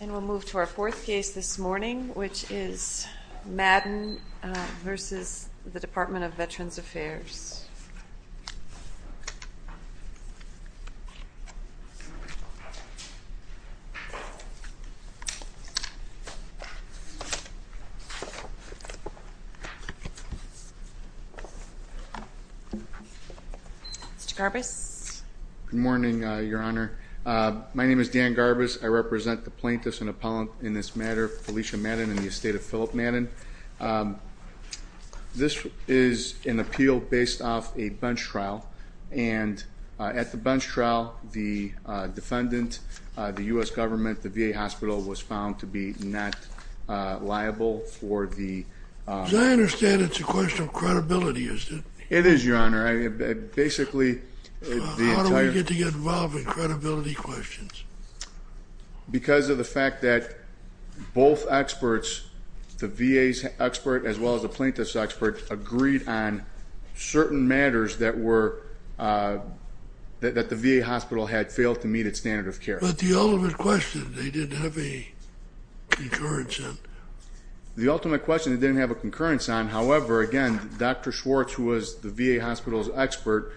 And we'll move to our fourth case this morning, which is Madden v. the Department of Veterans Affairs. Mr. Garbus. Good morning, Your Honor. My name is Dan Garbus. I represent the plaintiffs and appellant in this matter, Felicia Madden, in the estate of Philip Madden. This is an appeal based off a bench trial, and at the bench trial, the defendant, the U.S. Government, the VA hospital, was found to be not liable for the... As I understand, it's a question of credibility, is it? It is, Your Honor. Basically, the entire... Because of the fact that both experts, the VA's expert as well as the plaintiff's expert, agreed on certain matters that the VA hospital had failed to meet its standard of care. But the ultimate question they didn't have a concurrence on. The ultimate question they didn't have a concurrence on, however, again, Dr. Schwartz, who was that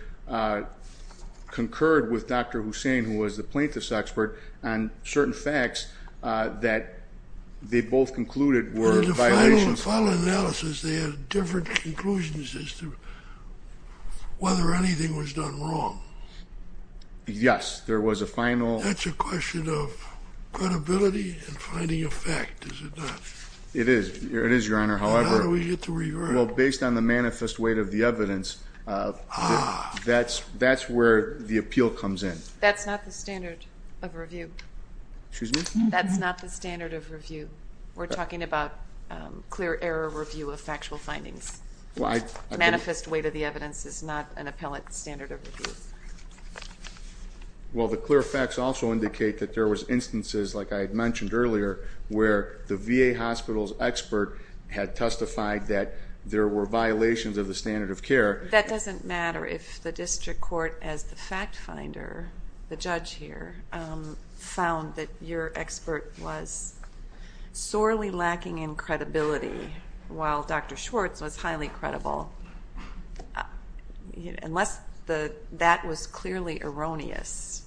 they both concluded were violations... In the final analysis, they had different conclusions as to whether anything was done wrong. Yes. There was a final... That's a question of credibility and finding a fact, is it not? It is. It is, Your Honor. However... How do we get to revert? Well, based on the manifest weight of the evidence, that's where the appeal comes in. That's not the standard of review. Excuse me? That's not the standard of review. We're talking about clear error review of factual findings. Manifest weight of the evidence is not an appellate standard of review. Well, the clear facts also indicate that there was instances, like I had mentioned earlier, where the VA hospital's expert had testified that there were violations of the standard of care. That doesn't matter. If the district court, as the fact finder, the judge here, found that your expert was sorely lacking in credibility, while Dr. Schwartz was highly credible, unless that was clearly erroneous,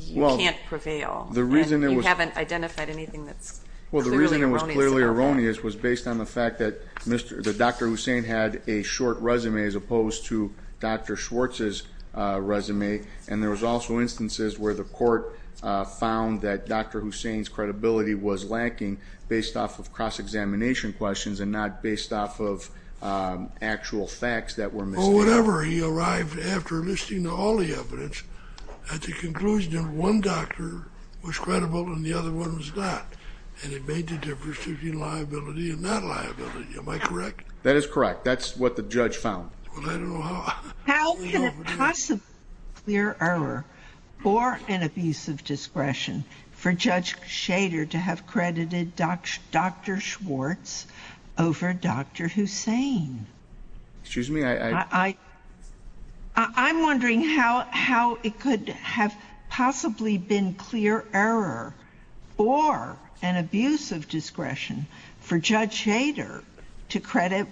you can't prevail, and you haven't identified anything that's clearly erroneous about that. So the evidence was based on the fact that Dr. Hussain had a short resume as opposed to Dr. Schwartz's resume, and there was also instances where the court found that Dr. Hussain's credibility was lacking based off of cross-examination questions and not based off of actual facts that were misstated. Well, whatever. He arrived after listing all the evidence at the conclusion that one doctor was credible and the other one was not, and it made the difference between liability and not liability. Am I correct? That is correct. That's what the judge found. Well, I don't know how. How can it possibly be clear error, or an abuse of discretion, for Judge Shader to have credited Dr. Schwartz over Dr. Hussain? Excuse me? I'm wondering how it could have possibly been clear error, or an abuse of discretion, for Judge Shader to credit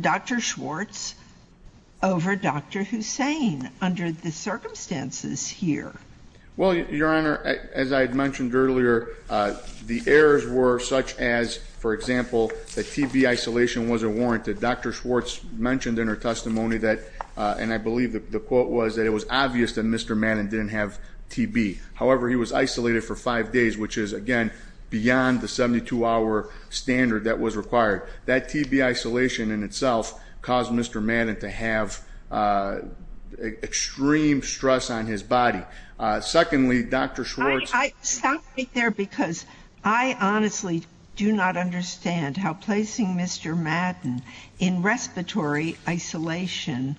Dr. Schwartz over Dr. Hussain under the circumstances here. Well, Your Honor, as I had mentioned earlier, the errors were such as, for example, that testimony that, and I believe the quote was that it was obvious that Mr. Madden didn't have TB. However, he was isolated for five days, which is, again, beyond the 72-hour standard that was required. That TB isolation in itself caused Mr. Madden to have extreme stress on his body. Secondly, Dr. Schwartz – I – stop right there, because I honestly do not understand how placing Mr. Madden in isolation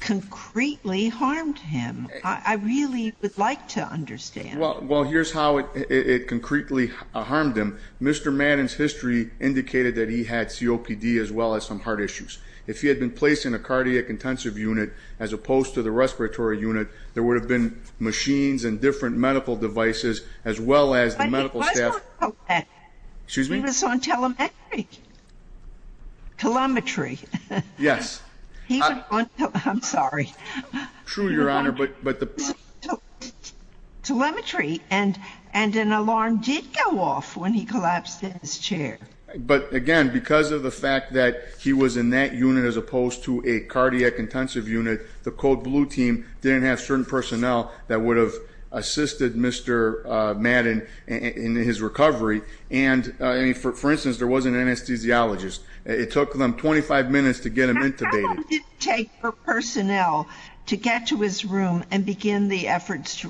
concretely harmed him. I really would like to understand. Well, here's how it concretely harmed him. Mr. Madden's history indicated that he had COPD as well as some heart issues. If he had been placed in a cardiac intensive unit as opposed to the respiratory unit, there would have been machines and different medical devices, as well as the medical staff – But it was not like that. Excuse me? It was on telemetry. Telemetry. Yes. He was on – I'm sorry. True, Your Honor. But the – Telemetry. And an alarm did go off when he collapsed in his chair. But, again, because of the fact that he was in that unit as opposed to a cardiac intensive unit, the Code Blue team didn't have certain personnel that would have assisted Mr. Madden in his recovery. And, I mean, for instance, there was an anesthesiologist. That's not true. That's not true. That's not true. That's not true. That's not true. That's not true. How long did it take for personnel to get to his room and begin the efforts to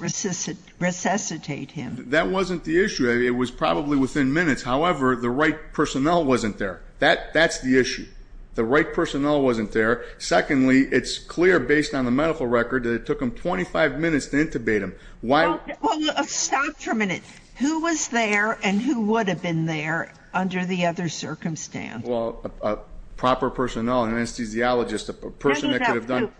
resuscitate him? That wasn't the issue. It was probably within minutes. However, the right personnel wasn't there. That's the issue. The right personnel wasn't there. Secondly, it's clear based on the medical record that it took him 25 minutes to intubate him. Why – Well, stop for a minute. Who was there and who would have been there under the other circumstance? Well, a proper personnel, an anesthesiologist, a person that could have done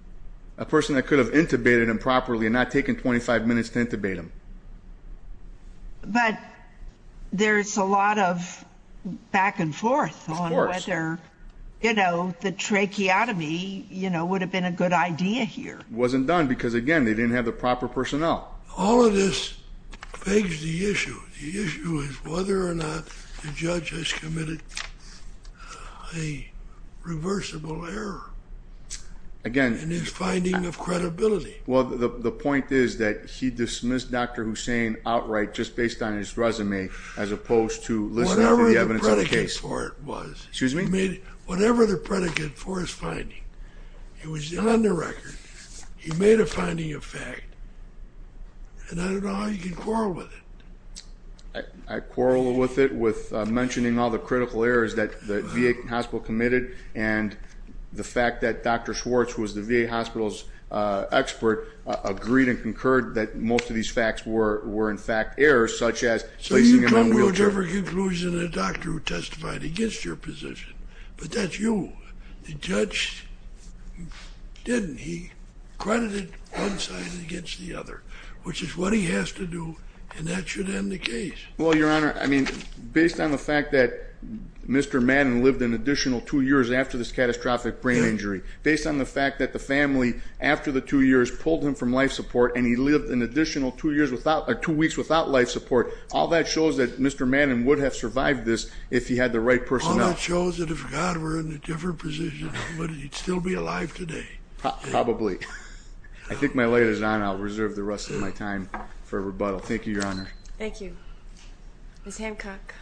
– A person that could have intubated him properly and not taken 25 minutes to intubate him. But there's a lot of back and forth on whether, you know, the tracheotomy, you know, would have been a good idea here. It wasn't done because, again, they didn't have the proper personnel. All of this begs the issue. The issue is whether or not the judge has committed a reversible error in his finding of credibility. Well, the point is that he dismissed Dr. Hussain outright just based on his resume as opposed to listening to the evidence of the case. Whatever the predicate for it was. Excuse me? Whatever the predicate for his finding. It was on the record. He made a finding of fact, and I don't know how you can quarrel with it. I quarreled with it with mentioning all the critical errors that the VA hospital committed and the fact that Dr. Schwartz, who was the VA hospital's expert, agreed and concurred that most of these facts were, in fact, errors, such as placing him on wheelchair. So you come to whichever conclusion the doctor who testified against your position, but that's you. The judge didn't. He credited one side against the other, which is what he has to do, and that should end the case. Well, Your Honor, I mean, based on the fact that Mr. Madden lived an additional two years after this catastrophic brain injury, based on the fact that the family, after the two years, pulled him from life support and he lived an additional two weeks without life support, all that shows that Mr. Madden would have survived this if he had the right personnel. All that shows that if God were in a different position, he'd still be alive today. Probably. I think my light is on. I'll reserve the rest of my time for rebuttal. Thank you, Your Honor. Thank you. Ms. Hancock.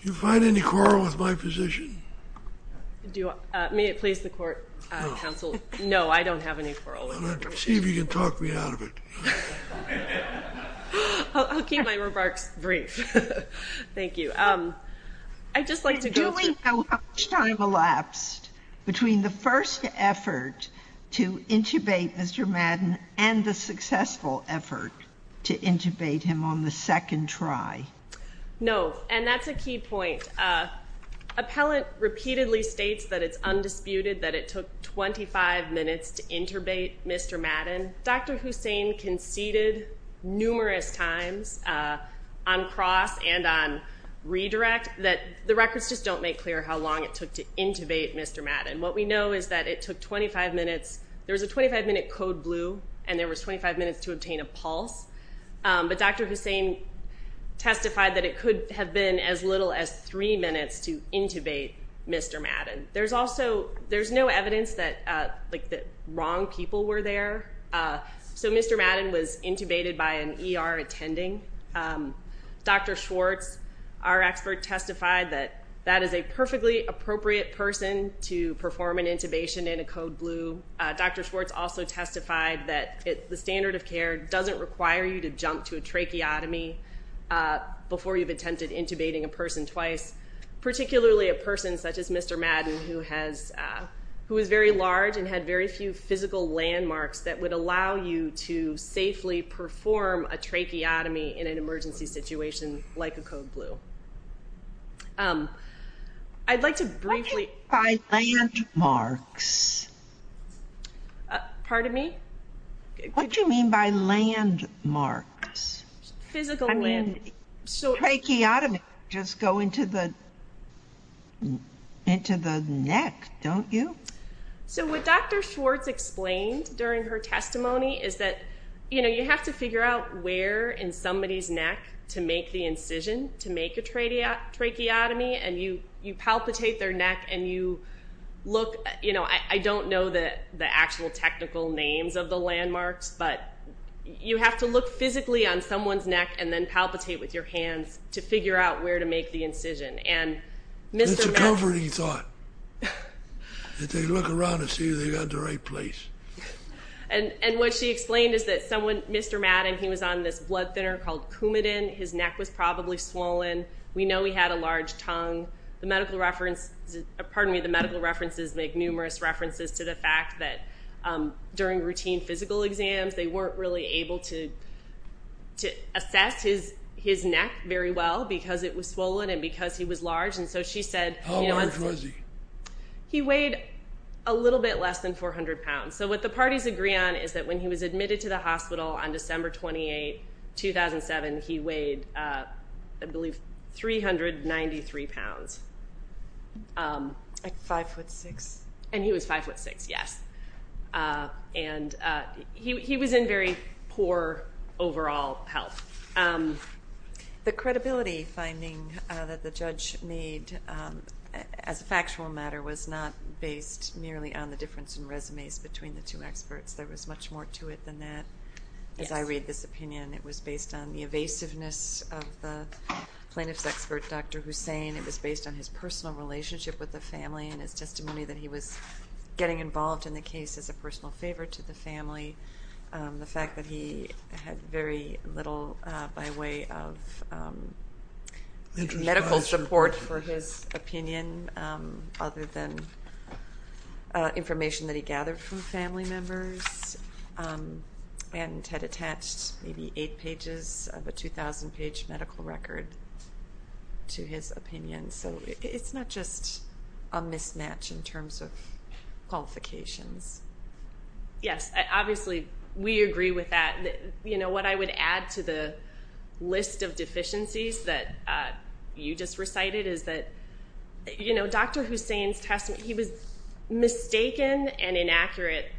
Do you find any quarrel with my position? Do you? May it please the court, counsel? No. No, I don't have any quarrel with it. See if you can talk me out of it. I'll keep my remarks brief. Thank you. I'd just like to go to- Do we know how much time elapsed between the first effort to intubate Mr. Madden and the successful effort to intubate him on the second try? No, and that's a key point. Appellant repeatedly states that it's undisputed that it took 25 minutes to intubate Mr. Madden. Dr. Hussain conceded numerous times on cross and on redirect that the records just don't make clear how long it took to intubate Mr. Madden. What we know is that it took 25 minutes. There was a 25-minute code blue, and there was 25 minutes to obtain a pulse, but Dr. Hussain testified that it could have been as little as three minutes to intubate Mr. Madden. There's also no evidence that wrong people were there, so Mr. Madden was intubated by an ER attending. Dr. Schwartz, our expert, testified that that is a perfectly appropriate person to perform an intubation in a code blue. Dr. Schwartz also testified that the standard of care doesn't require you to jump to a tracheotomy before you've attempted intubating a person twice, particularly a person such as Mr. Madden who has, who is very large and had very few physical landmarks that would allow you to safely perform a tracheotomy in an emergency situation like a code blue. I'd like to briefly- What do you mean by landmarks? Pardon me? What do you mean by landmarks? Physical landmarks. Tracheotomy, just go into the neck, don't you? So what Dr. Schwartz explained during her testimony is that, you know, you have to figure out where in somebody's neck to make the incision to make a tracheotomy and you palpitate their neck and you look, you know, I don't know the actual technical names of the landmarks, but you have to look physically on someone's neck and then palpitate with your hands to figure out where to make the incision. And Mr. Madden- That's a comforting thought, that they look around and see they got the right place. And what she explained is that someone, Mr. Madden, he was on this blood thinner called Coumadin. His neck was probably swollen. We know he had a large tongue. The medical reference, pardon me, the medical references make numerous references to the they weren't really able to assess his neck very well because it was swollen and because he was large. And so she said- How large was he? He weighed a little bit less than 400 pounds. So what the parties agree on is that when he was admitted to the hospital on December 28, 2007, he weighed, I believe, 393 pounds. Like five foot six. And he was five foot six, yes. And he was in very poor overall health. The credibility finding that the judge made as a factual matter was not based merely on the difference in resumes between the two experts. There was much more to it than that. As I read this opinion, it was based on the evasiveness of the plaintiff's expert, Dr. Hussain. It was based on his personal relationship with the family and his testimony that he was getting involved in the case as a personal favor to the family, the fact that he had very little by way of medical support for his opinion other than information that he gathered from family members, and had attached maybe eight pages of a 2,000-page medical record to his opinion. So it's not just a mismatch in terms of qualifications. Yes, obviously we agree with that. You know, what I would add to the list of deficiencies that you just recited is that, you know, Dr. Hussain's testimony, he was mistaken and inaccurate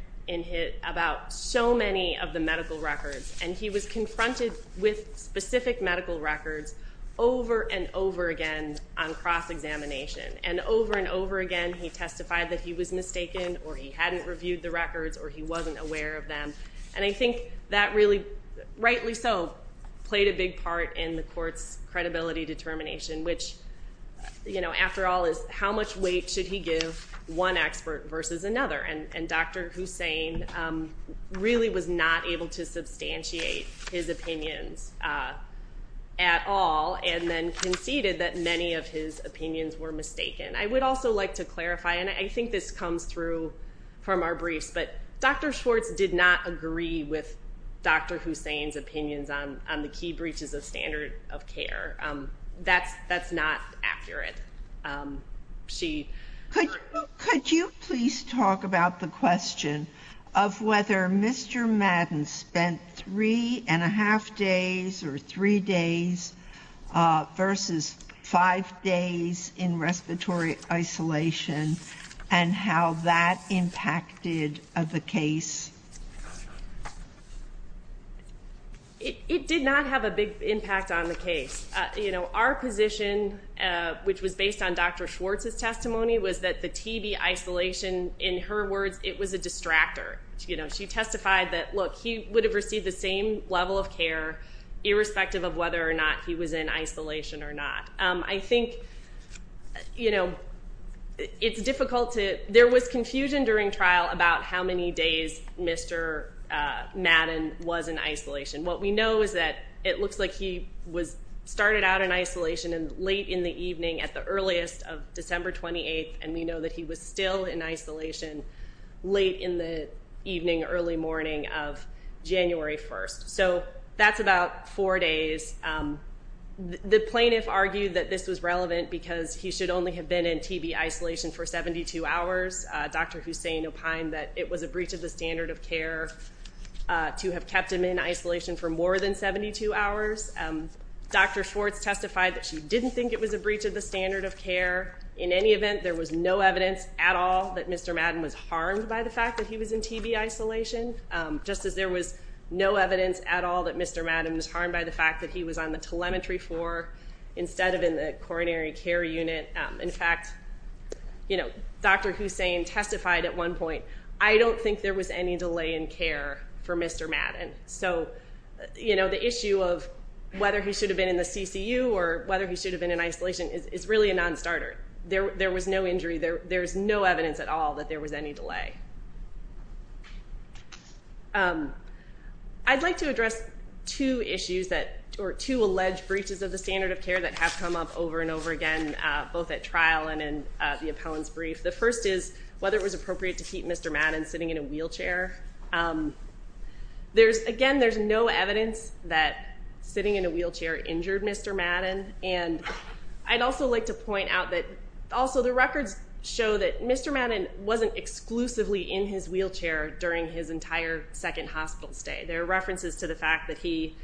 about so many of the medical records, and he was confronted with specific medical records over and over again on cross-examination. And over and over again, he testified that he was mistaken or he hadn't reviewed the records or he wasn't aware of them. And I think that really, rightly so, played a big part in the court's credibility determination, which, you know, after all, is how much weight should he give one expert versus another? And Dr. Hussain really was not able to substantiate his opinions at all, and then conceded that many of his opinions were mistaken. I would also like to clarify, and I think this comes through from our briefs, but Dr. Schwartz did not agree with Dr. Hussain's opinions on the key breaches of standard of care. That's not accurate. Could you please talk about the question of whether Mr. Madden spent three and a half days or three days versus five days in respiratory isolation and how that impacted the case? It did not have a big impact on the case. You know, our position, which was based on Dr. Schwartz's testimony, was that the TB isolation, in her words, it was a distractor. She testified that, look, he would have received the same level of care irrespective of whether or not he was in isolation or not. I think, you know, it's difficult to, there was confusion during trial about how many days Mr. Madden was in isolation. What we know is that it looks like he started out in isolation late in the evening at the evening, early morning of January 1st. So that's about four days. The plaintiff argued that this was relevant because he should only have been in TB isolation for 72 hours. Dr. Hussain opined that it was a breach of the standard of care to have kept him in isolation for more than 72 hours. Dr. Schwartz testified that she didn't think it was a breach of the standard of care. In any event, there was no evidence at all that Mr. Madden was harmed by the fact that he was in TB isolation, just as there was no evidence at all that Mr. Madden was harmed by the fact that he was on the telemetry floor instead of in the coronary care unit. In fact, you know, Dr. Hussain testified at one point, I don't think there was any delay in care for Mr. Madden. So you know, the issue of whether he should have been in the CCU or whether he should have been in isolation is really a non-starter. There was no injury. There's no evidence at all that there was any delay. I'd like to address two issues that, or two alleged breaches of the standard of care that have come up over and over again, both at trial and in the appellant's brief. The first is whether it was appropriate to keep Mr. Madden sitting in a wheelchair. There's again, there's no evidence that sitting in a wheelchair injured Mr. Madden, and I'd also like to point out that also the records show that Mr. Madden wasn't exclusively in his wheelchair during his entire second hospital stay. There are references to the fact that he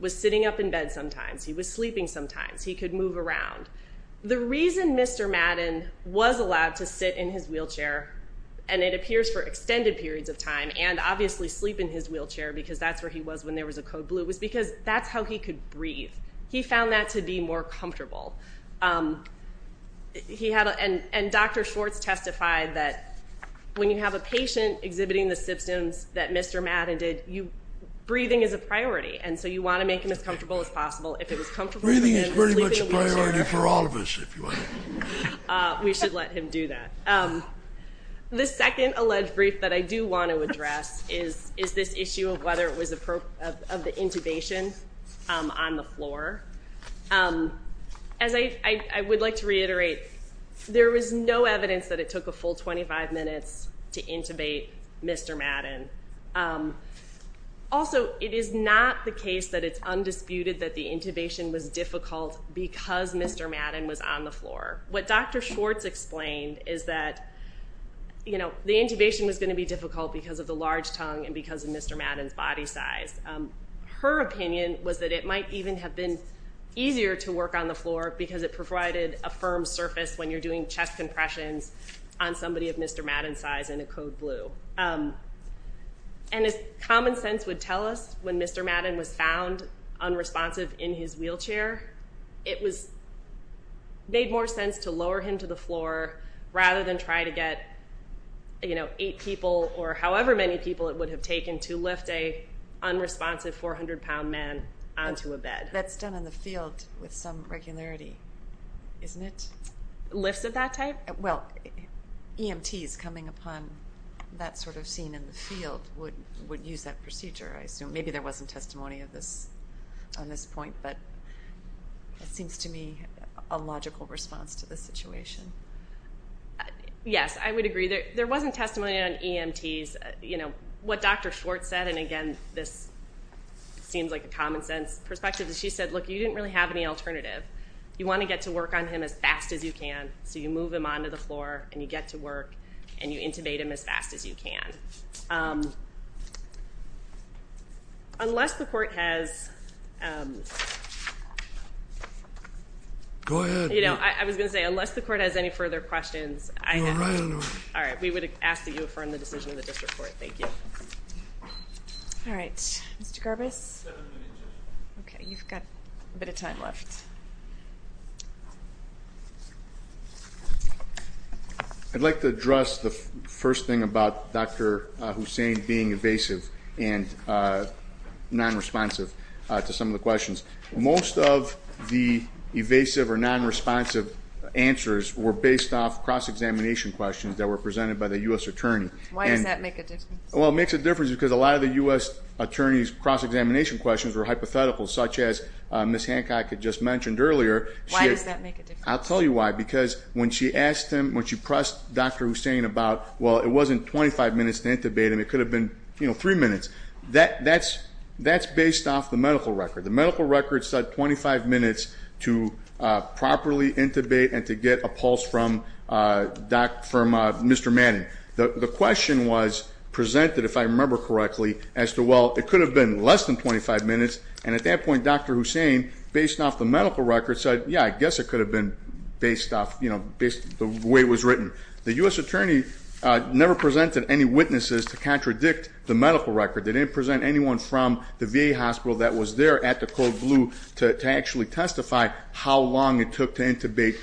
was sitting up in bed sometimes. He was sleeping sometimes. He could move around. The reason Mr. Madden was allowed to sit in his wheelchair, and it appears for extended periods of time, and obviously sleep in his wheelchair because that's where he was when there was a code blue, was because that's how he could breathe. He found that to be more comfortable. He had, and Dr. Schwartz testified that when you have a patient exhibiting the symptoms that Mr. Madden did, breathing is a priority, and so you want to make him as comfortable as possible. If it was comfortable for him to sleep in a wheelchair. Breathing is pretty much a priority for all of us, if you will. We should let him do that. The second alleged brief that I do want to address is this issue of whether it was appropriate of the intubation on the floor. As I would like to reiterate, there was no evidence that it took a full 25 minutes to intubate Mr. Madden. Also, it is not the case that it's undisputed that the intubation was difficult because Mr. Madden was on the floor. What Dr. Schwartz explained is that the intubation was going to be difficult because of the large size. Her opinion was that it might even have been easier to work on the floor because it provided a firm surface when you're doing chest compressions on somebody of Mr. Madden's size in a code blue. And as common sense would tell us, when Mr. Madden was found unresponsive in his wheelchair, it made more sense to lower him to the floor rather than try to get eight people or however many people it would have taken to lift an unresponsive 400-pound man onto a bed. That's done in the field with some regularity, isn't it? Lifts of that type? Well, EMTs coming upon that sort of scene in the field would use that procedure, I assume. Maybe there wasn't testimony on this point, but it seems to me a logical response to the situation. Yes, I would agree. There wasn't testimony on EMTs. What Dr. Schwartz said, and again, this seems like a common sense perspective, is she said, look, you didn't really have any alternative. You want to get to work on him as fast as you can, so you move him onto the floor and you get to work and you intubate him as fast as you can. Unless the court has... Go ahead. I was going to say, unless the court has any further questions, I have... All right. We would ask that you affirm the decision of the district court. Thank you. All right. Mr. Garbus? Seven minutes. Okay. You've got a bit of time left. I'd like to address the first thing about Dr. Hussain being evasive and non-responsive to some of the questions. Most of the evasive or non-responsive answers were based off cross-examination questions that were presented by the U.S. attorney. Why does that make a difference? Well, it makes a difference because a lot of the U.S. attorney's cross-examination questions were hypothetical, such as Ms. Hancock had just mentioned earlier. Why does that make a difference? I'll tell you why. Because when she asked him, when she pressed Dr. Hussain about, well, it wasn't 25 minutes to intubate him. It could have been three minutes. That's based off the medical record. The medical record said 25 minutes to properly intubate and to get a pulse from Mr. Manning. The question was presented, if I remember correctly, as to, well, it could have been less than 25 minutes. And at that point, Dr. Hussain, based off the medical record, said, yeah, I guess it could have been based off, you know, the way it was written. The U.S. attorney never presented any witnesses to contradict the medical record. They didn't present anyone from the VA hospital that was there at the code blue to actually testify how long it took to intubate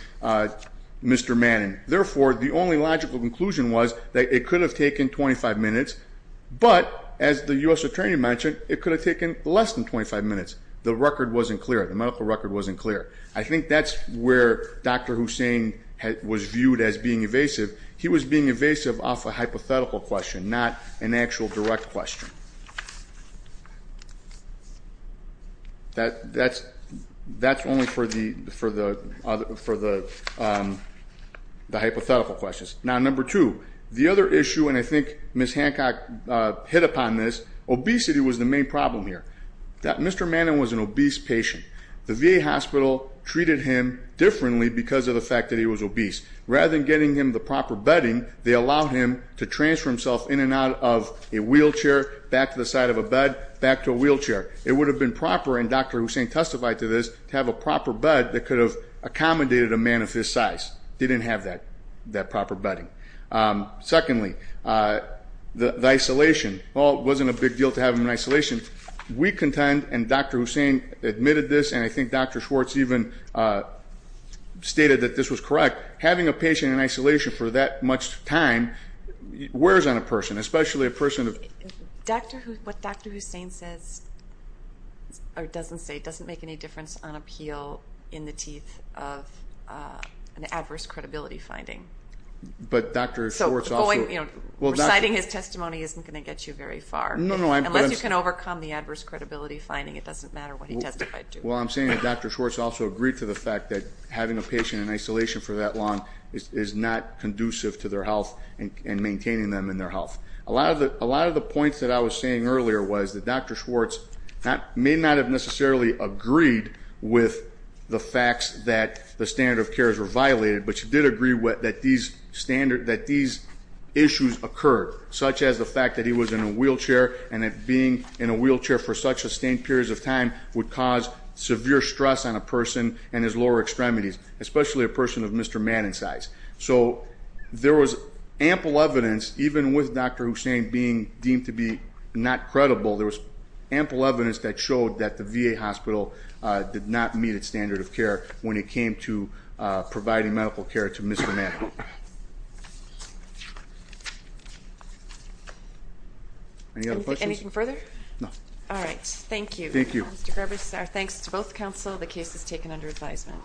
Mr. Manning. Therefore, the only logical conclusion was that it could have taken 25 minutes. But as the U.S. attorney mentioned, it could have taken less than 25 minutes. The record wasn't clear. The medical record wasn't clear. I think that's where Dr. Hussain was viewed as being evasive. He was being evasive off a hypothetical question, not an actual direct question. That's only for the hypothetical questions. Now number two, the other issue, and I think Ms. Hancock hit upon this, obesity was the main problem here. Mr. Manning was an obese patient. The VA hospital treated him differently because of the fact that he was obese. Rather than getting him the proper bedding, they allowed him to transfer himself in and out of a wheelchair, back to the side of a bed, back to a wheelchair. It would have been proper, and Dr. Hussain testified to this, to have a proper bed that could have accommodated a man of his size. Didn't have that proper bedding. Secondly, the isolation, well, it wasn't a big deal to have him in isolation. We contend, and Dr. Hussain admitted this, and I think Dr. Schwartz even stated that this was correct. Having a patient in isolation for that much time wears on a person, especially a person of- What Dr. Hussain says, or doesn't say, doesn't make any difference on appeal in the teeth of an adverse credibility finding. But Dr. Schwartz also- So reciting his testimony isn't going to get you very far. No, no. Unless you can overcome the adverse credibility finding, it doesn't matter what he testified to. Well, I'm saying that Dr. Schwartz also agreed to the fact that having a patient in isolation for that long is not conducive to their health and maintaining them in their health. A lot of the points that I was saying earlier was that Dr. Schwartz may not have necessarily agreed with the facts that the standard of cares were violated, but she did agree that these issues occurred, such as the fact that he was in a wheelchair, and that being in a wheelchair for such sustained periods of time would cause severe stress on a person and his lower extremities, especially a person of Mr. Madden's size. So there was ample evidence, even with Dr. Hussain being deemed to be not credible, there was ample evidence that showed that the VA hospital did not meet its standard of care when it came to providing medical care to Mr. Madden. Any other questions? Anything further? No. All right. Thank you. Thank you. Thank you. Mr. Gerbers, our thanks to both Council. The case is taken under advisement.